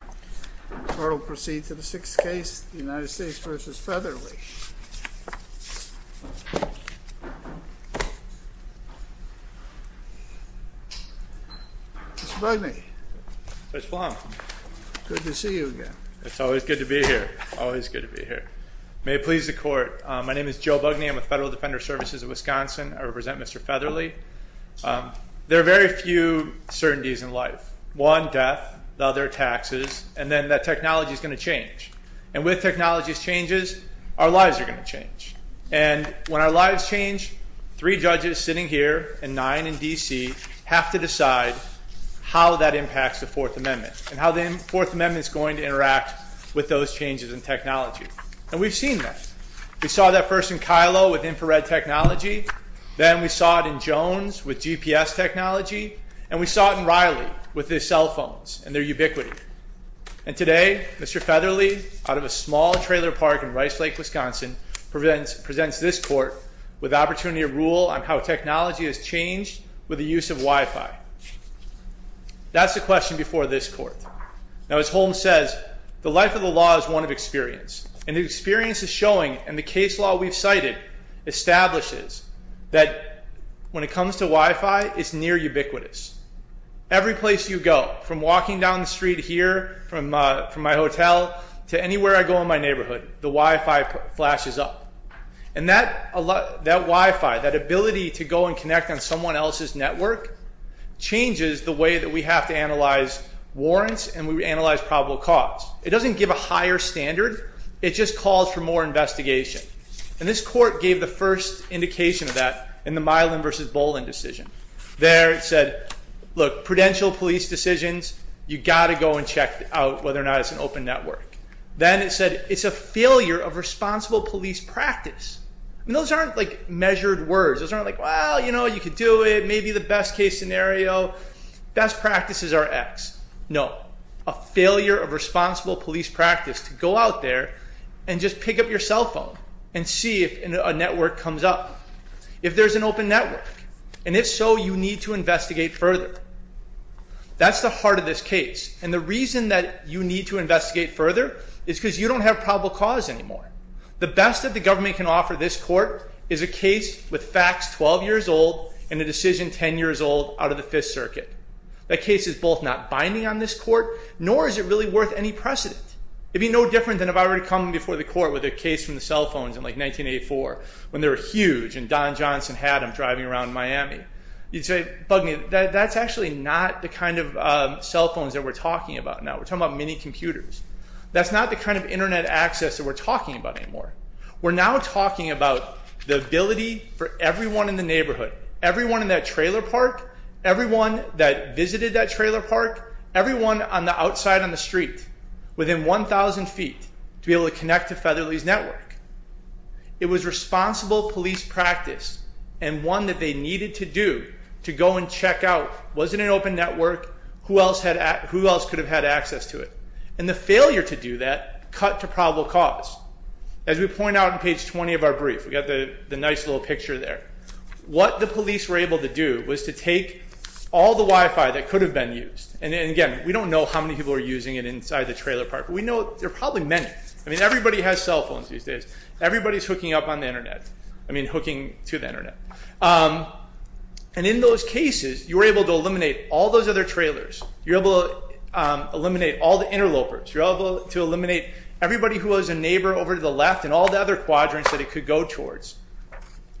The court will proceed to the sixth case, United States v. Featherly. Mr. Bugney. Judge Blum. Good to see you again. It's always good to be here. Always good to be here. May it please the court, my name is Joe Bugney. I'm with Federal Defender Services of Wisconsin. I represent Mr. Featherly. There are very few certainties in life. One, death. The other, taxes. And then that technology is going to change. And with technology's changes, our lives are going to change. And when our lives change, three judges sitting here, and nine in D.C., have to decide how that impacts the Fourth Amendment. And how the Fourth Amendment is going to interact with those changes in technology. And we've seen that. We saw that first in Kylo with infrared technology. Then we saw it in Jones with GPS technology. And we saw it in Riley with his cell phones and their ubiquity. And today, Mr. Featherly, out of a small trailer park in Rice Lake, Wisconsin, presents this court with opportunity to rule on how technology has changed with the use of Wi-Fi. That's the question before this court. Now as Holmes says, the life of the law is one of experience. And the experience is showing, and the case law we've cited establishes, that when it comes to Wi-Fi, it's near ubiquitous. Every place you go, from walking down the street here from my hotel to anywhere I go in my neighborhood, the Wi-Fi flashes up. And that Wi-Fi, that ability to go and connect on someone else's network, changes the way that we have to analyze warrants and we analyze probable cause. It doesn't give a higher standard. It just calls for more investigation. And this court gave the first indication of that in the Milan v. Bolin decision. There it said, look, prudential police decisions, you've got to go and check out whether or not it's an open network. Then it said it's a failure of responsible police practice. And those aren't like measured words. Those aren't like, well, you know, you could do it, maybe the best case scenario. Best practices are X. No. A failure of responsible police practice to go out there and just pick up your cell phone and see if a network comes up. If there's an open network, and if so, you need to investigate further. That's the heart of this case. And the reason that you need to investigate further is because you don't have probable cause anymore. The best that the government can offer this court is a case with facts 12 years old and a decision 10 years old out of the Fifth Circuit. That case is both not binding on this court, nor is it really worth any precedent. It would be no different than if I were to come before the court with a case from the cell phones in like 1984, when they were huge and Don Johnson had them driving around Miami. You'd say, bug me, that's actually not the kind of cell phones that we're talking about now. We're talking about mini computers. That's not the kind of Internet access that we're talking about anymore. We're now talking about the ability for everyone in the neighborhood, everyone in that trailer park, everyone that visited that trailer park, everyone on the outside on the street, within 1,000 feet, to be able to connect to Featherly's network. It was responsible police practice and one that they needed to do to go and check out, was it an open network, who else could have had access to it? And the failure to do that cut to probable cause. As we point out on page 20 of our brief, we've got the nice little picture there, what the police were able to do was to take all the Wi-Fi that could have been used, and again, we don't know how many people are using it inside the trailer park, but we know there are probably many. I mean, everybody has cell phones these days. Everybody is hooking up on the Internet, I mean, hooking to the Internet. And in those cases, you were able to eliminate all those other trailers. You were able to eliminate all the interlopers. You were able to eliminate everybody who was a neighbor over to the left and all the other quadrants that it could go towards.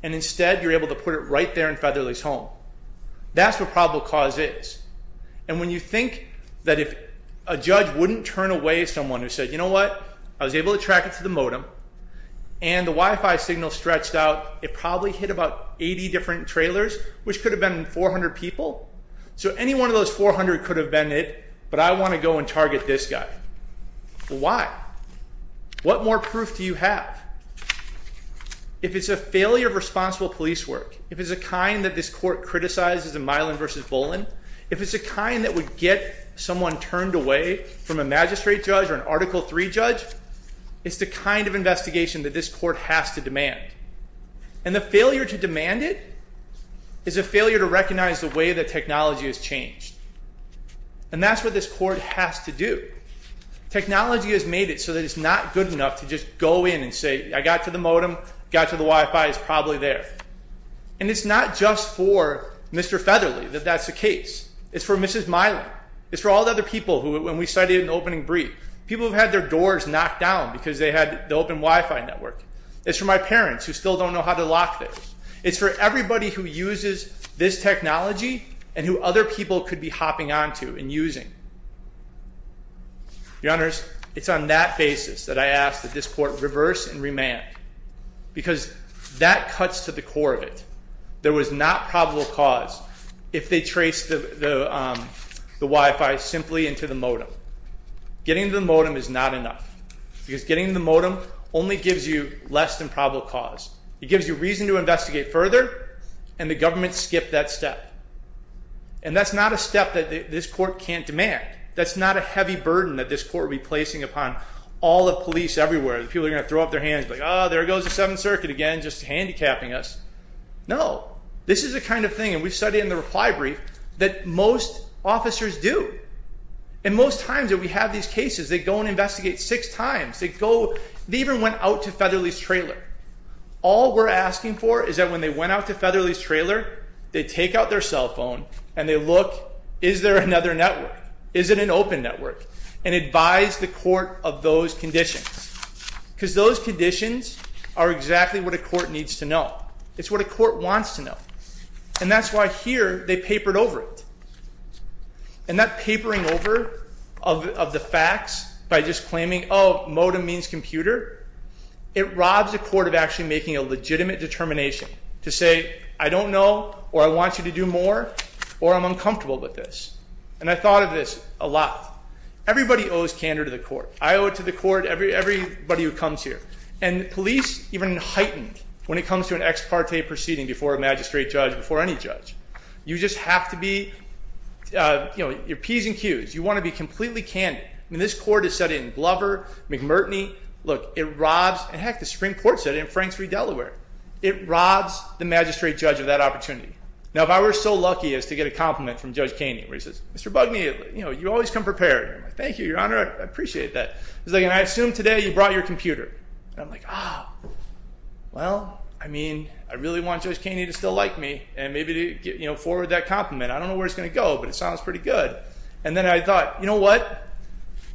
And instead, you're able to put it right there in Featherly's home. That's what probable cause is. And when you think that if a judge wouldn't turn away someone who said, you know what, I was able to track it to the modem, and the Wi-Fi signal stretched out, it probably hit about 80 different trailers, which could have been 400 people. So any one of those 400 could have been it, but I want to go and target this guy. Why? What more proof do you have? If it's a failure of responsible police work, if it's the kind that this court criticizes in Milan v. Bolin, if it's the kind that would get someone turned away from a magistrate judge or an Article III judge, it's the kind of investigation that this court has to demand. And the failure to demand it is a failure to recognize the way that technology has changed. And that's what this court has to do. Technology has made it so that it's not good enough to just go in and say, I got to the modem, got to the Wi-Fi, it's probably there. And it's not just for Mr. Featherly that that's the case. It's for Mrs. Milan. It's for all the other people who, when we cited an opening brief, people who had their doors knocked down because they had the open Wi-Fi network. It's for my parents who still don't know how to lock this. It's for everybody who uses this technology and who other people could be hopping onto and using. Your Honors, it's on that basis that I ask that this court reverse and remand. Because that cuts to the core of it. There was not probable cause if they traced the Wi-Fi simply into the modem. Getting to the modem is not enough. Because getting to the modem only gives you less than probable cause. It gives you reason to investigate further, and the government skipped that step. And that's not a step that this court can't demand. That's not a heavy burden that this court will be placing upon all the police everywhere. People are going to throw up their hands like, oh, there goes the Seventh Circuit again, just handicapping us. No. This is the kind of thing, and we've studied in the reply brief, that most officers do. And most times that we have these cases, they go and investigate six times. They even went out to Featherly's trailer. All we're asking for is that when they went out to Featherly's trailer, they take out their cell phone and they look, is there another network? Is it an open network? And advise the court of those conditions. Because those conditions are exactly what a court needs to know. It's what a court wants to know. And that's why here they papered over it. And that papering over of the facts by just claiming, oh, modem means computer, it robs a court of actually making a legitimate determination to say, I don't know, or I want you to do more, or I'm uncomfortable with this. And I thought of this a lot. Everybody owes candor to the court. I owe it to the court, everybody who comes here. And police even heighten when it comes to an ex parte proceeding before a magistrate judge, before any judge. You just have to be, you know, your P's and Q's. You want to be completely candid. I mean, this court has said it in Glover, McMurtney. Look, it robs, and heck, the Supreme Court said it in Franks v. Delaware. It robs the magistrate judge of that opportunity. Now, if I were so lucky as to get a compliment from Judge Kaney, where he says, Mr. Bugney, you know, you always come prepared. Thank you, Your Honor, I appreciate that. He's like, and I assume today you brought your computer. And I'm like, ah, well, I mean, I really want Judge Kaney to still like me and maybe to, you know, forward that compliment. I don't know where it's going to go, but it sounds pretty good. And then I thought, you know what?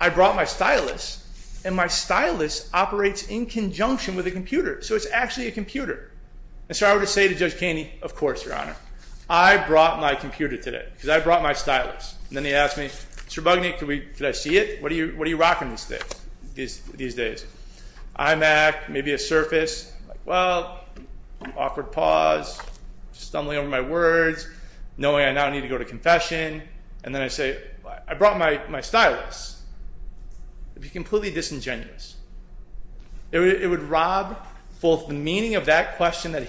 I brought my stylus, and my stylus operates in conjunction with a computer. So it's actually a computer. And so I would say to Judge Kaney, of course, Your Honor, I brought my computer today because I brought my stylus. And then he asked me, Mr. Bugney, could I see it? What are you rocking these days? iMac, maybe a Surface. Well, awkward pause, stumbling over my words, knowing I now need to go to confession. And then I say, I brought my stylus. It would be completely disingenuous. It would rob both the meaning of that question that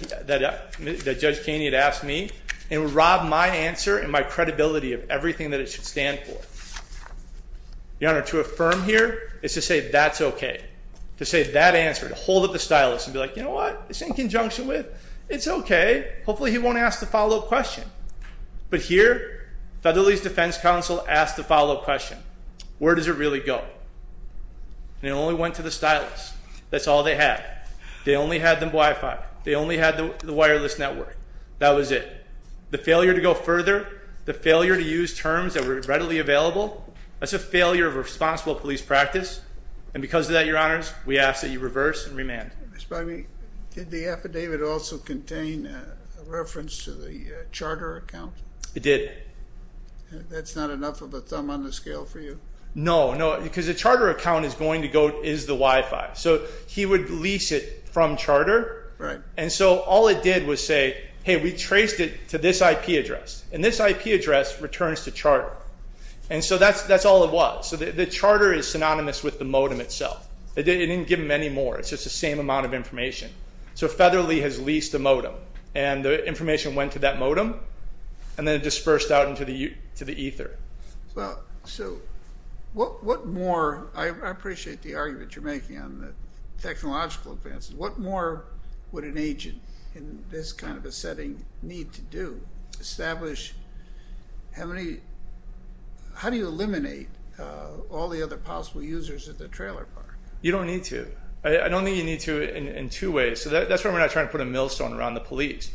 Judge Kaney had asked me and would rob my answer and my credibility of everything that it should stand for. Your Honor, to affirm here is to say that's okay. To say that answer, to hold up the stylus and be like, you know what? It's in conjunction with, it's okay. Hopefully he won't ask the follow-up question. But here, Federalese Defense Counsel asked the follow-up question. Where does it really go? And it only went to the stylus. That's all they had. They only had the Wi-Fi. They only had the wireless network. That was it. The failure to go further, the failure to use terms that were readily available, that's a failure of responsible police practice. And because of that, Your Honors, we ask that you reverse and remand. Did the affidavit also contain a reference to the charter account? It did. That's not enough of a thumb on the scale for you? No, no, because the charter account is going to go, is the Wi-Fi. So he would lease it from charter. And so all it did was say, hey, we traced it to this IP address, and this IP address returns to charter. And so that's all it was. So the charter is synonymous with the modem itself. It didn't give them any more. It's just the same amount of information. So Featherly has leased the modem, and the information went to that modem, and then it dispersed out into the ether. Well, so what more? I appreciate the argument you're making on the technological advances. What more would an agent in this kind of a setting need to do? Establish how do you eliminate all the other possible users at the trailer park? You don't need to. I don't think you need to in two ways. So that's why we're not trying to put a millstone around the police.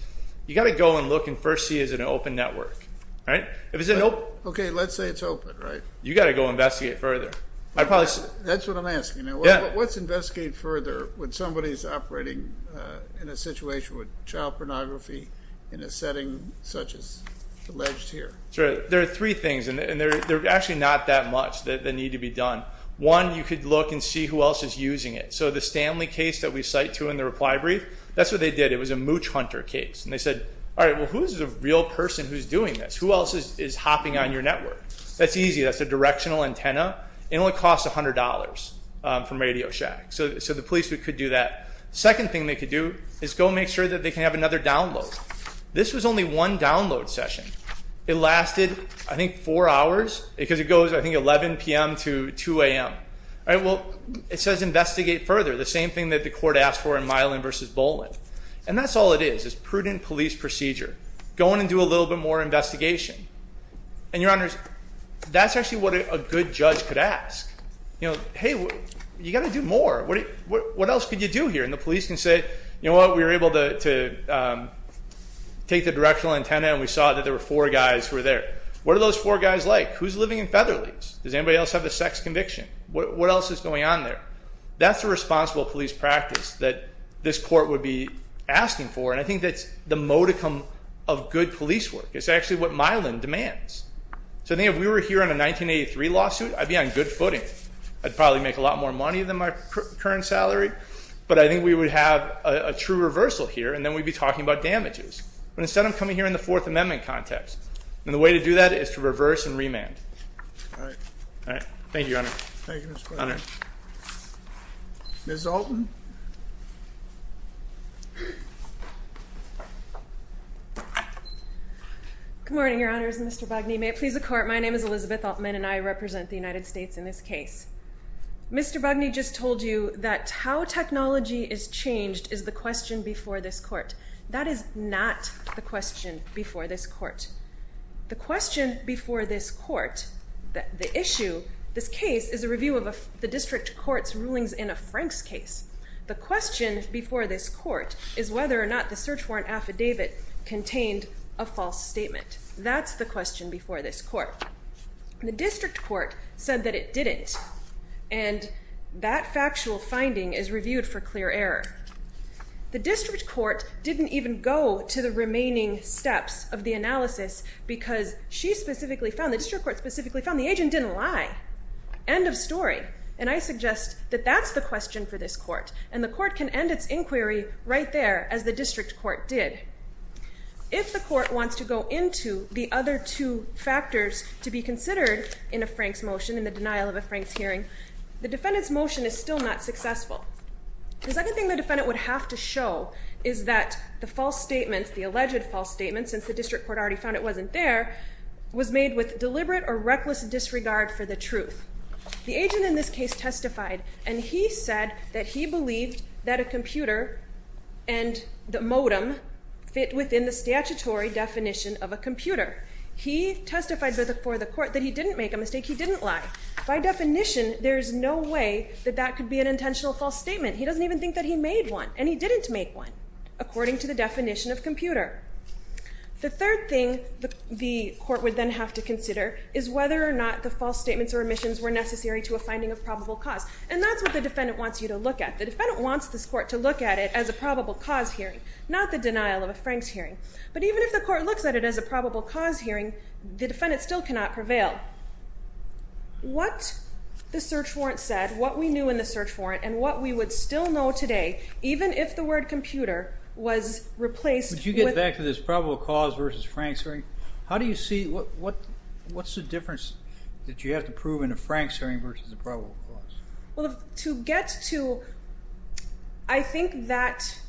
You've got to go and look and first see is it an open network. Okay, let's say it's open, right? You've got to go investigate further. That's what I'm asking. What's investigate further when somebody is operating in a situation with child pornography in a setting such as alleged here? One, you could look and see who else is using it. So the Stanley case that we cite to in the reply brief, that's what they did. It was a mooch hunter case. And they said, all right, well, who's the real person who's doing this? Who else is hopping on your network? That's easy. That's a directional antenna. It only costs $100 from Radio Shack. So the police could do that. Second thing they could do is go make sure that they can have another download. This was only one download session. It lasted, I think, four hours because it goes, I think, 11 p.m. to 2 a.m. All right, well, it says investigate further, the same thing that the court asked for in Milan v. Boland. And that's all it is, is prudent police procedure. Go on and do a little bit more investigation. And, Your Honors, that's actually what a good judge could ask. You know, hey, you've got to do more. What else could you do here? And the police can say, you know what, we were able to take the directional antenna and we saw that there were four guys who were there. What are those four guys like? Who's living in Featherleafs? Does anybody else have a sex conviction? What else is going on there? That's a responsible police practice that this court would be asking for, and I think that's the modicum of good police work. It's actually what Milan demands. So I think if we were here on a 1983 lawsuit, I'd be on good footing. I'd probably make a lot more money than my current salary, but I think we would have a true reversal here, and then we'd be talking about damages. But instead, I'm coming here in the Fourth Amendment context, and the way to do that is to reverse and remand. All right. All right. Thank you, Your Honor. Thank you, Mr. Quigley. Ms. Altman. Good morning, Your Honors. Mr. Bugney, may it please the Court, my name is Elizabeth Altman, and I represent the United States in this case. Mr. Bugney just told you that how technology is changed is the question before this court. That is not the question before this court. The question before this court, the issue, this case, is a review of the district court's rulings in a Franks case. The question before this court is whether or not the search warrant affidavit contained a false statement. That's the question before this court. The district court said that it didn't, and that factual finding is reviewed for clear error. The district court didn't even go to the remaining steps of the analysis because she specifically found, the district court specifically found, the agent didn't lie. End of story. And I suggest that that's the question for this court, and the court can end its inquiry right there as the district court did. If the court wants to go into the other two factors to be considered in a Franks motion, in the denial of a Franks hearing, the defendant's motion is still not successful. The second thing the defendant would have to show is that the false statements, the alleged false statements, since the district court already found it wasn't there, was made with deliberate or reckless disregard for the truth. The agent in this case testified, and he said that he believed that a computer and the modem fit within the statutory definition of a computer. He testified before the court that he didn't make a mistake. He didn't lie. By definition, there's no way that that could be an intentional false statement. He doesn't even think that he made one, and he didn't make one according to the definition of computer. The third thing the court would then have to consider is whether or not the false statements or omissions were necessary to a finding of probable cause. And that's what the defendant wants you to look at. The defendant wants this court to look at it as a probable cause hearing, not the denial of a Franks hearing. But even if the court looks at it as a probable cause hearing, the defendant still cannot prevail. What the search warrant said, what we knew in the search warrant and what we would still know today, even if the word computer was replaced. Would you get back to this probable cause versus Frank's hearing? How do you see what, what, what's the difference that you have to prove in a Frank's hearing versus a probable cause? Well, to get to, I think that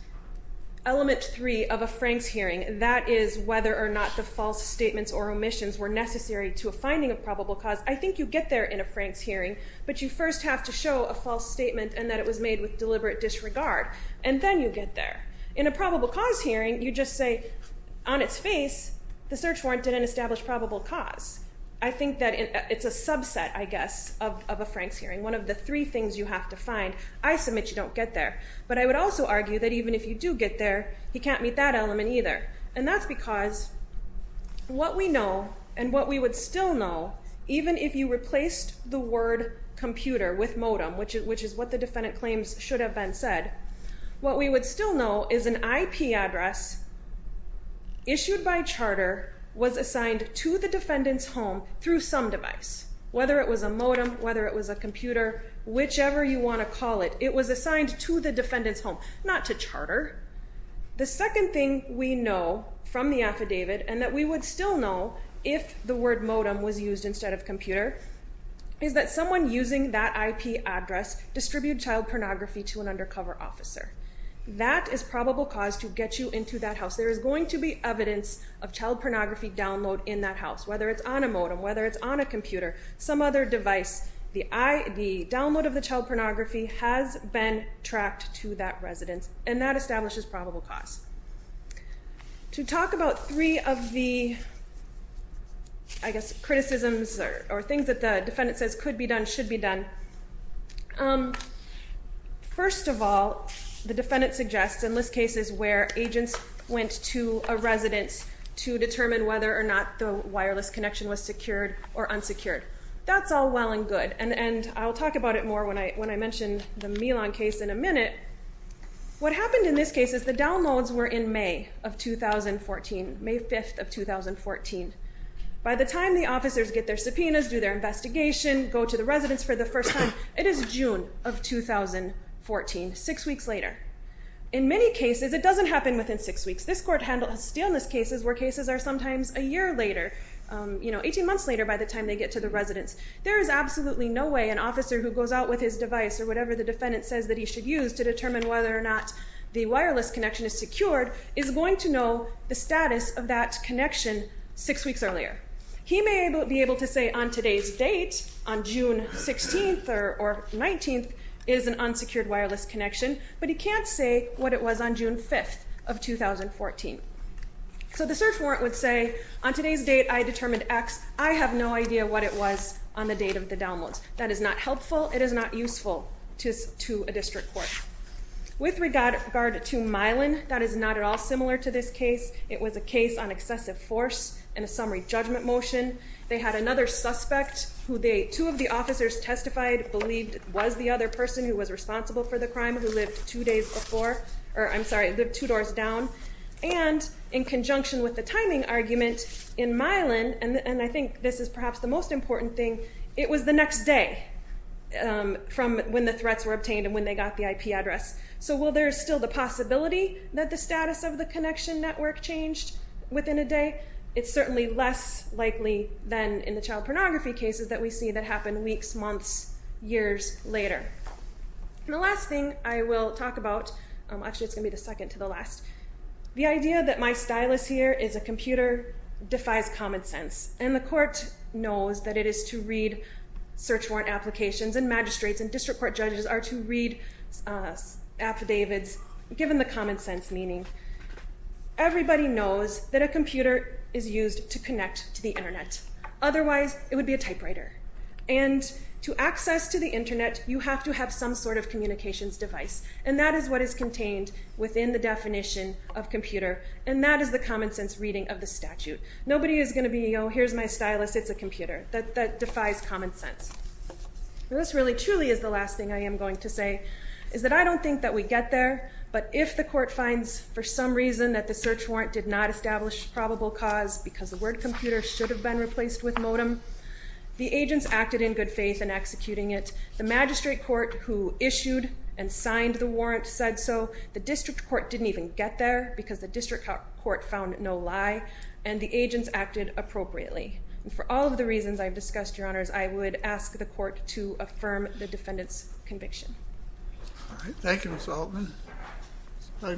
element three of a Frank's hearing, that is whether or not the false statements or omissions were necessary to finding a probable cause. I think you get there in a Frank's hearing, but you first have to show a false statement and that it was made with deliberate disregard. And then you get there in a probable cause hearing. You just say on its face, the search warrant didn't establish probable cause. I think that it's a subset, I guess, of a Frank's hearing. One of the three things you have to find, I submit you don't get there, but I would also argue that even if you do get there, he can't meet that element either. And that's because what we know and what we would still know, even if you replaced the word computer with modem, which is what the defendant claims should have been said, what we would still know is an IP address issued by charter was assigned to the defendant's home through some device, whether it was a modem, whether it was a computer, whichever you want to call it, it was assigned to the defendant's home, not to charter. The second thing we know from the affidavit and that we would still know if the word modem was used instead of computer is that someone using that IP address distribute child pornography to an undercover officer. That is probable cause to get you into that house. There is going to be evidence of child pornography download in that house, whether it's on a modem, whether it's on a computer, some other device, the download of the child pornography has been tracked to that residence. And that establishes probable cause to talk about three of the, I guess, criticisms or things that the defendant says could be done, should be done. First of all, the defendant suggests and list cases where agents went to a residence to determine whether or not the wireless connection was secured or unsecured. That's all well and good. And, when I mentioned the Milan case in a minute, what happened in this case is the downloads were in May of 2014, May 5th of 2014. By the time the officers get their subpoenas, do their investigation, go to the residence for the first time, it is June of 2014, six weeks later. In many cases, it doesn't happen within six weeks. This court handled stillness cases where cases are sometimes a year later, you know, 18 months later by the time they get to the residence, there is absolutely no way an officer who goes out with his device or to determine whether or not the wireless connection is secured, is going to know the status of that connection six weeks earlier. He may be able to say on today's date, on June 16th or 19th, is an unsecured wireless connection, but he can't say what it was on June 5th of 2014. So the search warrant would say, on today's date, I determined X. I have no idea what it was on the date of the downloads. That is not helpful. It is not useful to a district court. With regard to Milan, that is not at all similar to this case. It was a case on excessive force and a summary judgment motion. They had another suspect who they, two of the officers testified, believed was the other person who was responsible for the crime, who lived two days before, or I'm sorry, lived two doors down. And in conjunction with the timing argument in Milan, and I think this is perhaps the most important thing, it was the next day from when the threats were obtained and when they got the IP address. So while there is still the possibility that the status of the connection network changed within a day, it's certainly less likely than in the child pornography cases that we see that happen weeks, months, years later. And the last thing I will talk about, actually it's going to be the second to the last, the idea that my stylus here is a computer defies common sense. And the court knows that it is to read search warrant applications, and magistrates and district court judges are to read affidavits given the common sense meaning. Everybody knows that a computer is used to connect to the Internet. Otherwise, it would be a typewriter. And to access to the Internet, you have to have some sort of communications device, and that is what is contained within the definition of computer, and that is the common sense reading of the statute. Nobody is going to be, oh, here's my stylus, it's a computer. That defies common sense. This really truly is the last thing I am going to say, is that I don't think that we get there, but if the court finds for some reason that the search warrant did not establish probable cause because the word computer should have been replaced with modem, the agents acted in good faith in executing it. The magistrate court who issued and signed the warrant said so. The district court didn't even get there because the district court found no lie, and the agents acted appropriately. And for all of the reasons I've discussed, Your Honors, I would ask the court to affirm the defendant's conviction. All right. Thank you, Ms. Altman. Your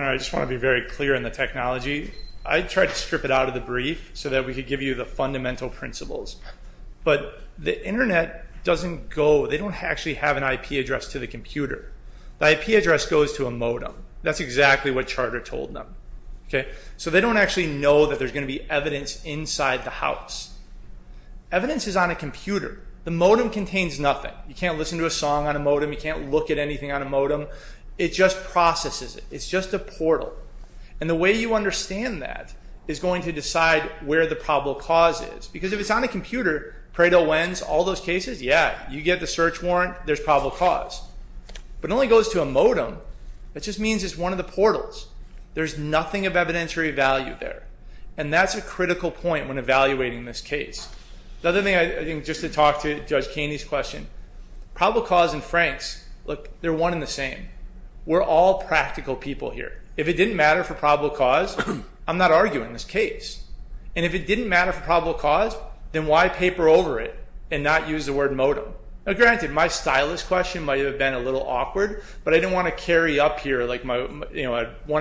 Honor, I just want to be very clear on the technology. I tried to strip it out of the brief so that we could give you the fundamental principles. But the Internet doesn't go, they don't actually have an IP address to the computer. The IP address goes to a modem. That's exactly what Charter told them. So they don't actually know that there's going to be evidence inside the house. Evidence is on a computer. The modem contains nothing. You can't listen to a song on a modem. You can't look at anything on a modem. It just processes it. It's just a portal. And the way you understand that is going to decide where the probable cause is. Because if it's on a computer, Pareto, Wenz, all those cases, yeah, you get the search warrant, there's probable cause. But it only goes to a modem. That just means it's one of the portals. There's nothing of evidentiary value there. And that's a critical point when evaluating this case. The other thing, I think, just to talk to Judge Keeney's question, probable cause and Franks, look, they're one and the same. We're all practical people here. If it didn't matter for probable cause, I'm not arguing this case. And if it didn't matter for probable cause, then why paper over it and not use the word modem? Granted, my stylist question might have been a little awkward, but I didn't want to carry up here, like one,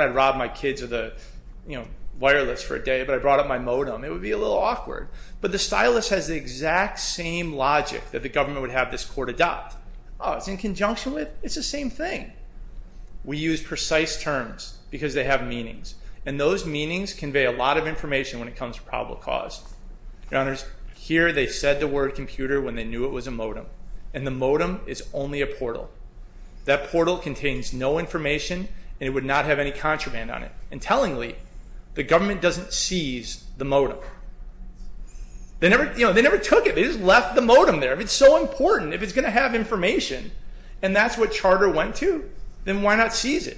I'd rob my kids of the wireless for a day, but I brought up my modem. It would be a little awkward. But the stylist has the exact same logic that the government would have this court adopt. Oh, it's in conjunction with? It's the same thing. We use precise terms because they have meanings. And those meanings convey a lot of information when it comes to probable cause. Your Honors, here they said the word computer when they knew it was a modem. And the modem is only a portal. That portal contains no information, and it would not have any contraband on it. And tellingly, the government doesn't seize the modem. They never took it. They just left the modem there. It's so important. If it's going to have information, and that's what Charter went to, then why not seize it?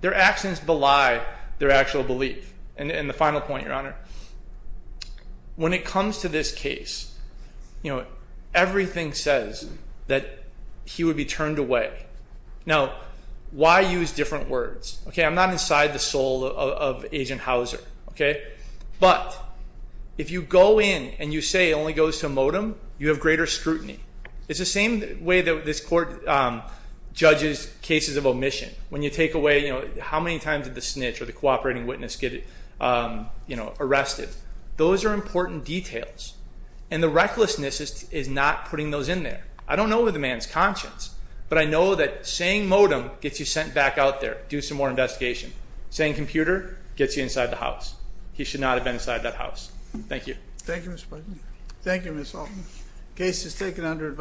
Their actions belie their actual belief. And the final point, Your Honor, when it comes to this case, everything says that he would be turned away. Now, why use different words? I'm not inside the soul of Agent Hauser. But if you go in and you say it only goes to a modem, you have greater scrutiny. It's the same way that this court judges cases of omission. When you take away how many times did the snitch or the cooperating witness get arrested? Those are important details. And the recklessness is not putting those in there. I don't know the man's conscience, but I know that saying modem gets you sent back out there, do some more investigation. Saying computer gets you inside the house. He should not have been inside that house. Thank you. Thank you, Mr. Plotkin. Thank you, Ms. Altman. Case is taken under advisory.